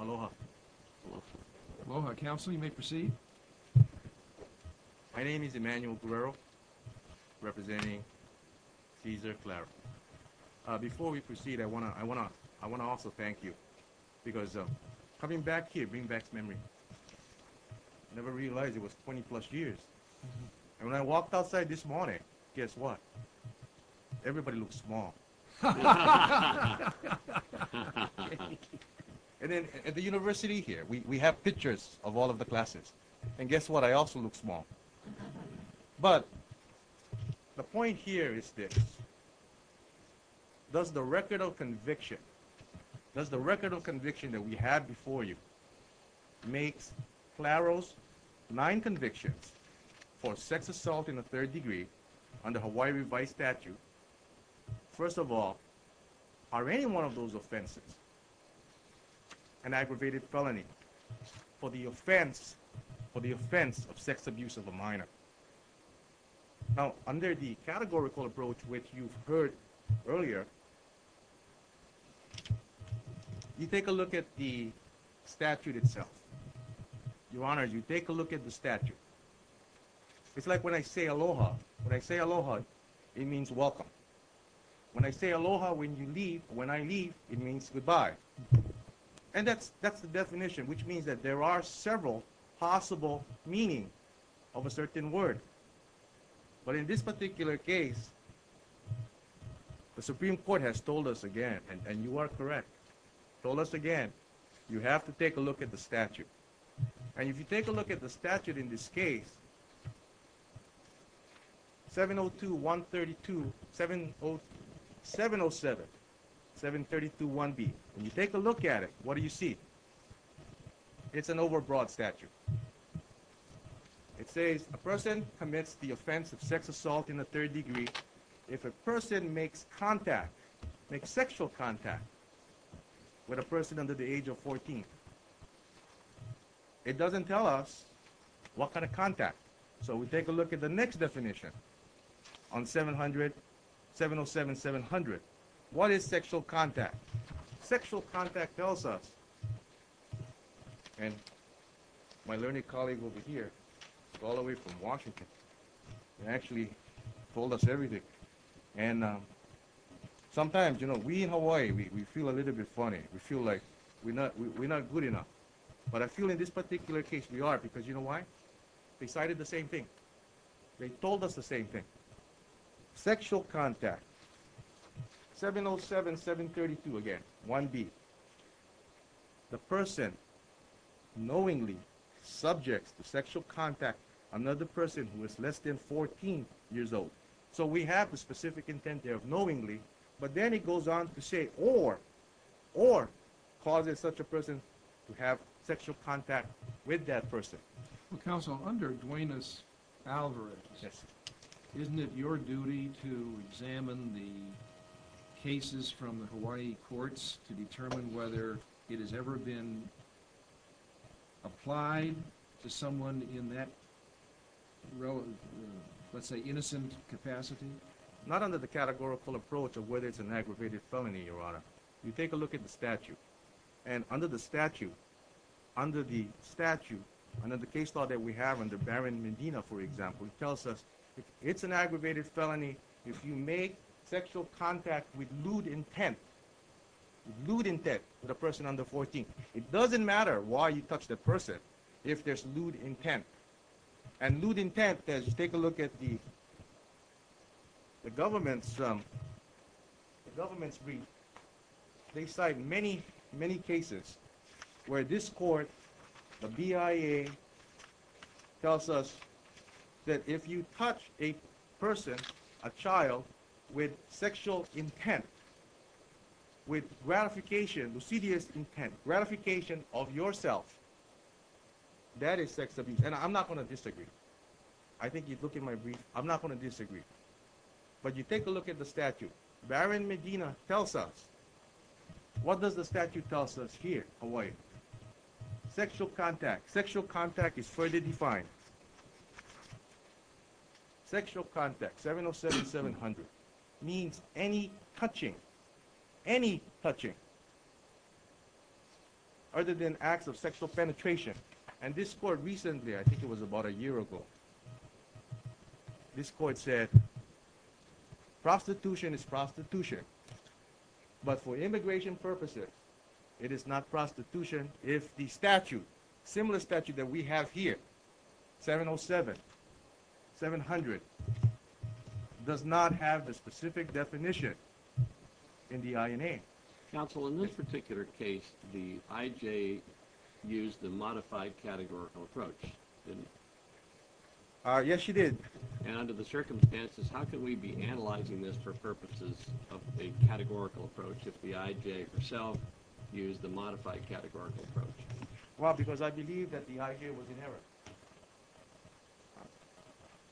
Aloha. Aloha. Aloha. Counsel, you may proceed. My name is Emmanuel Guerrero, representing Cesar Clara. Before we proceed, I want to also thank you, because coming back here brings back memories. I never realized it was 20-plus years. And when I walked outside this morning, guess what? Everybody looked small. At the university here, we have pictures of all of the classes, and guess what? I also look small. But the point here is this. Does the record of conviction, does the record of conviction that we had before you, make Claro's nine convictions for sex assault in the third degree under Hawaii revised statute First of all, are any one of those offenses an aggravated felony for the offense, for the offense of sex abuse of a minor? Now, under the categorical approach which you've heard earlier, you take a look at the statute itself. Your Honor, you take a look at the statute. It's like when I say aloha. When I say aloha, it means welcome. When I say aloha when you leave, when I leave, it means goodbye. And that's the definition, which means that there are several possible meanings of a certain word. But in this particular case, the Supreme Court has told us again, and you are correct, told us again, you have to take a look at the statute. And if you take a look at the statute in this case, 702.132.707, 732.1b, and you take a look at it, what do you see? It's an overbroad statute. It says a person commits the offense of sex assault in the third degree If a person makes contact, makes sexual contact with a person under the age of 14, it doesn't tell us what kind of contact. So we take a look at the next definition on 700.707.700. What is sexual contact? Sexual contact tells us, and my learned colleague over here, all the way from Washington, actually told us everything. And sometimes, you know, we in Hawaii, we feel a little bit funny. We feel like we're not good enough. But I feel in this particular case, we are, because you know why? They cited the same thing. They told us the same thing. Sexual contact, 707.732 again, 1b. The person knowingly subjects to sexual contact another person who is less than 14 years old. So we have the specific intent there of knowingly, but then it goes on to say or, or causes such a person to have sexual contact with that person. Well, Counsel, under Duenas-Alvarez, isn't it your duty to examine the cases from the Hawaii courts to determine whether it has ever been applied to someone in that, let's say, innocent capacity? Not under the categorical approach of whether it's an aggravated felony, Your Honor. You take a look at the statute. And under the statute, under the statute, under the case law that we have under Baron Medina, for example, it tells us if it's an aggravated felony, if you make sexual contact with lewd intent, lewd intent with a person under 14, it doesn't matter why you touch that person if there's lewd intent. And lewd intent, as you take a look at the government's, the government's brief, they cite many, many cases where this court, the BIA, tells us that if you touch a person, a child, with sexual intent, with gratification, lucidius intent, gratification of yourself, that is sex abuse. And I'm not going to disagree. I think you'd look at my brief. I'm not going to disagree. But you take a look at the statute. Baron Medina tells us, what does the statute tell us here, Hawaii? Sexual contact. Sexual contact is further defined. Sexual contact, 707-700, means any touching, any touching, other than acts of sexual penetration. And this court recently, I think it was about a year ago, this court said prostitution is prostitution, but for immigration purposes, it is not prostitution if the statute, similar statute that we have here, 707-700, does not have the specific definition in the INA. Counsel, in this particular case, the IJ used the modified categorical approach, didn't it? Yes, she did. And under the circumstances, how could we be analyzing this for purposes of a categorical approach if the IJ herself used the modified categorical approach? Well, because I believe that the IJ was in error.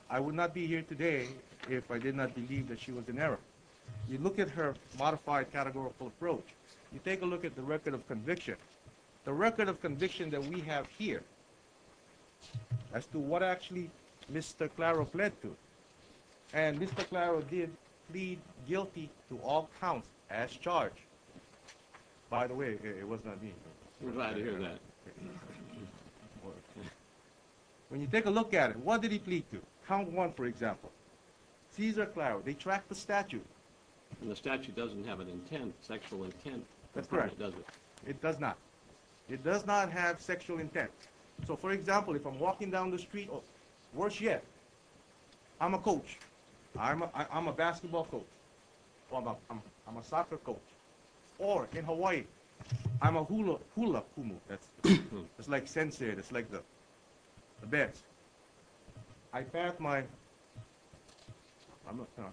I would not be here today if I did not believe that she was in error. You look at her modified categorical approach. You take a look at the record of conviction. The record of conviction that we have here as to what actually Mr. Claro pled to, and Mr. Claro did plead guilty to all counts as charged. By the way, it was not me. We're glad to hear that. When you take a look at it, what did he plead to? Count one, for example. Cesar Claro, they tracked the statute. And the statute doesn't have an intent, sexual intent. That's correct. It doesn't. It does not. It does not have sexual intent. So, for example, if I'm walking down the street, or worse yet, I'm a coach. I'm a basketball coach. I'm a soccer coach. Or in Hawaii, I'm a hula pumu. It's like sensei. It's like the best. I pat my, I'm not going to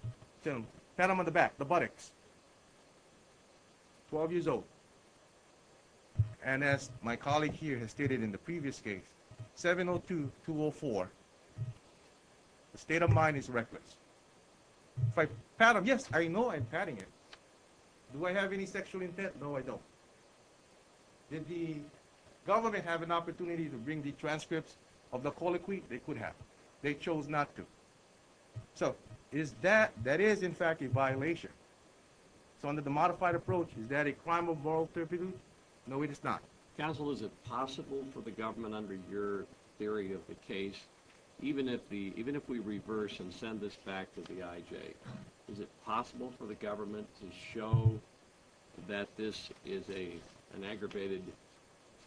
tell you, pat him on the back, the buttocks. Twelve years old. And as my colleague here has stated in the previous case, 702-204, the state of mind is reckless. If I pat him, yes, I know I'm patting him. Do I have any sexual intent? No, I don't. Did the government have an opportunity to bring the transcripts of the colloquy? They could have. They chose not to. So, is that, that is, in fact, a violation. So under the modified approach, is that a crime of moral turpitude? No, it is not. Counsel, is it possible for the government, under your theory of the case, even if we reverse and send this back to the IJ, is it possible for the government to show that this is an aggravated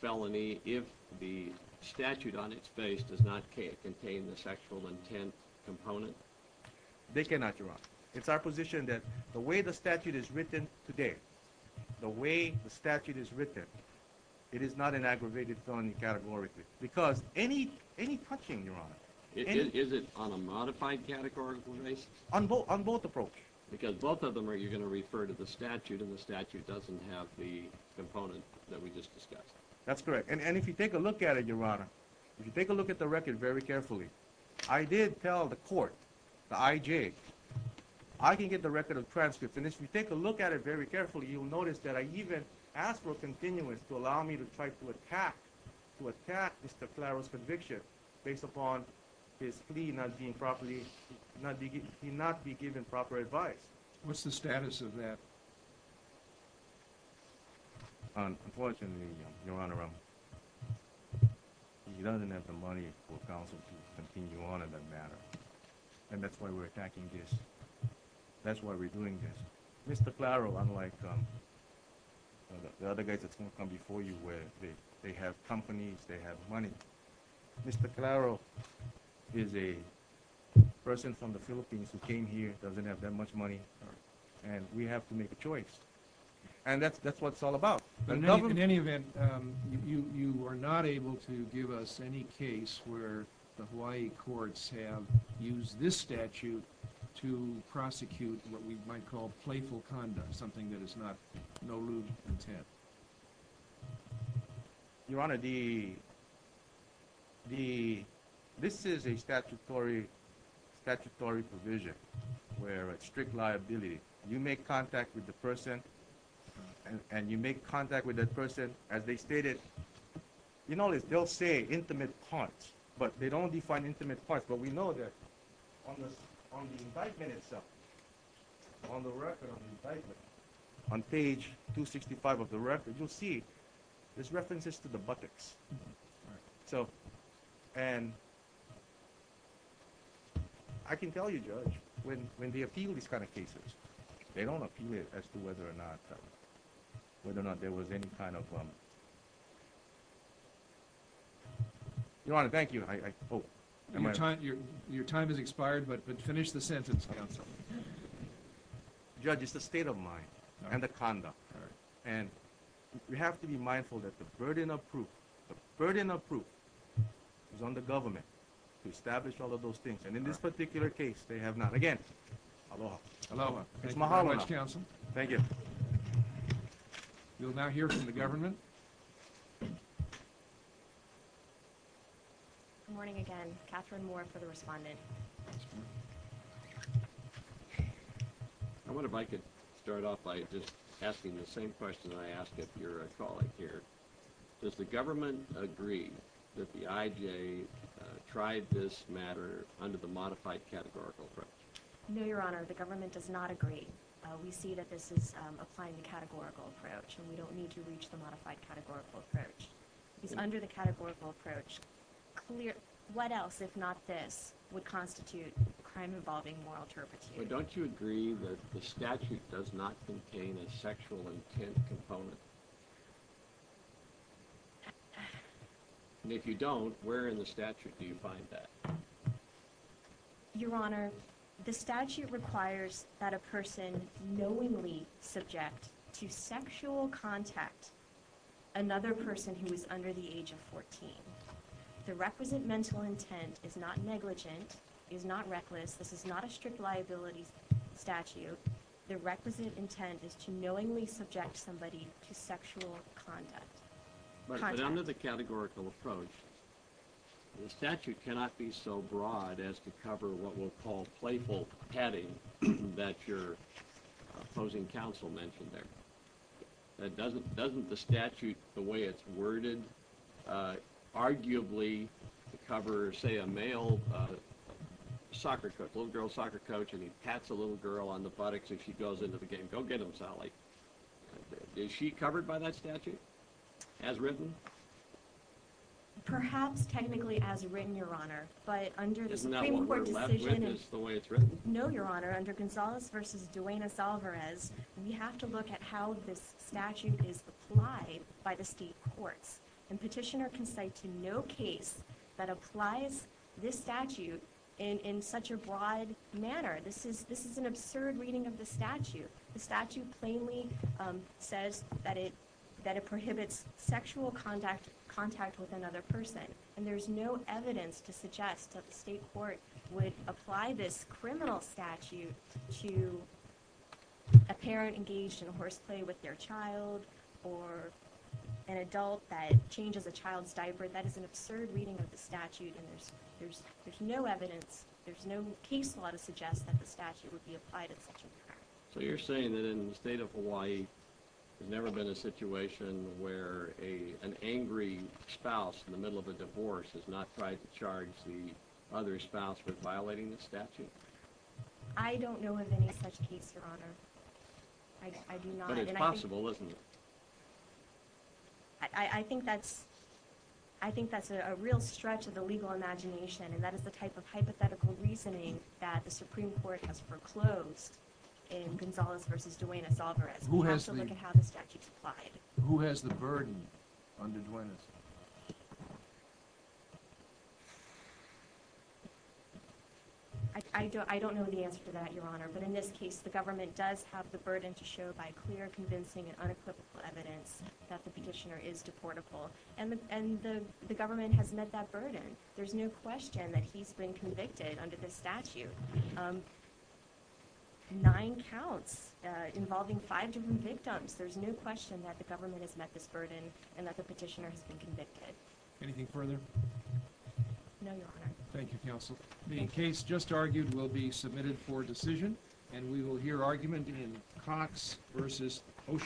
felony if the statute on its face does not contain the sexual intent component? They cannot, Your Honor. It's our position that the way the statute is written today, the way the statute is written, it is not an aggravated felony categorically. Because any, any touching, Your Honor. Is it on a modified categorical basis? On both, on both approaches. Because both of them are, you're going to refer to the statute and the statute doesn't have the component that we just discussed. That's correct. And if you take a look at it, Your Honor, if you take a look at the record very carefully, I did tell the court, the IJ, I can get the record of transcripts. And if you take a look at it very carefully, you'll notice that I even asked for a continuance to allow me to try to attack, to attack Mr. Claro's conviction based upon his plea not being properly, not be, he not be given proper advice. What's the status of that? Unfortunately, Your Honor, he doesn't have the money for counsel to continue on in that matter. And that's why we're attacking this. That's why we're doing this. Mr. Claro, unlike the other guys that's going to come before you where they have companies, they have money, Mr. Claro is a person from the Philippines who came here, doesn't have that much money, and we have to make a choice. And that's what it's all about. In any event, you are not able to give us any case where the Hawaii courts have used this statute to prosecute what we might call playful conduct, something that is not, no lewd intent. Your Honor, the, this is a statutory provision where a strict liability, you make contact with the person, and you make contact with that person, as they stated, you know, they'll say intimate parts, but they don't define intimate parts. But we know that on the indictment itself, on the record of the indictment, on page 265 of the record, you'll see there's references to the buttocks. So, and I can tell you, Judge, when they appeal these kind of cases, they don't appeal it as to whether or not, whether or not there was any kind of, Your Honor, thank you, I hope. Your time has expired, but finish the sentence, counsel. Judge, it's the state of mind and the conduct. And we have to be mindful that the burden of proof is on the government to establish all of those things. And in this particular case, they have not. Again, aloha. Aloha. Thank you very much, counsel. Thank you. We'll now hear from the government. Good morning again. Catherine Moore for the respondent. I wonder if I could start off by just asking the same question that I ask if you're a colleague here. Does the government agree that the IJA tried this matter under the modified categorical approach? No, Your Honor, the government does not agree. We see that this is applying the categorical approach, and we don't need to reach the modified categorical approach. It's under the categorical approach. What else, if not this, would constitute crime involving moral turpitude? But don't you agree that the statute does not contain a sexual intent component? And if you don't, where in the statute do you find that? Your Honor, the statute requires that a person knowingly subject to sexual contact another person who is under the age of 14. The requisite mental intent is not negligent, is not reckless. This is not a strict liability statute. The requisite intent is to knowingly subject somebody to sexual contact. But under the categorical approach, the statute cannot be so broad as to cover what we'll call playful patting that your opposing counsel mentioned there. Doesn't the statute, the way it's worded, arguably cover, say, a male soccer coach, a little girl soccer coach, and he pats a little girl on the buttocks and she goes into the game, go get him, Sally. Is she covered by that statute? As written? Perhaps technically as written, Your Honor, but under the Supreme Court decision... Isn't that what we're left with is the way it's written? No, Your Honor, under Gonzales v. Duenas-Alvarez, we have to look at how this statute is applied by the state courts. And Petitioner can cite to no case that applies this statute in such a broad manner. This is an absurd reading of the statute. The statute plainly says that it prohibits sexual contact with another person, and there's no evidence to suggest that the state court would apply this criminal statute to a parent engaged in horseplay with their child or an adult that changes a child's diaper. That is an absurd reading of the statute, and there's no evidence, there's no case law that would suggest that the statute would be applied in such a manner. So you're saying that in the state of Hawaii there's never been a situation where an angry spouse in the middle of a divorce has not tried to charge the other spouse with violating the statute? I don't know of any such case, Your Honor. I do not. But it's possible, isn't it? I think that's a real stretch of the legal imagination, and that is the type of hypothetical reasoning that the Supreme Court has foreclosed in Gonzalez v. Duenas-Alvarez. We have to look at how the statute's applied. Who has the burden under Duenas? I don't know the answer to that, Your Honor, but in this case the government does have the burden to show by clear, convincing, and unequivocal evidence that the petitioner is deportable, and the government has met that burden. There's no question that he's been convicted under this statute. Nine counts involving five different victims. There's no question that the government has met this burden and that the petitioner has been convicted. Anything further? No, Your Honor. Thank you, Counsel. The case just argued will be submitted for decision, and we will hear argument in Cox v. Ocean Park.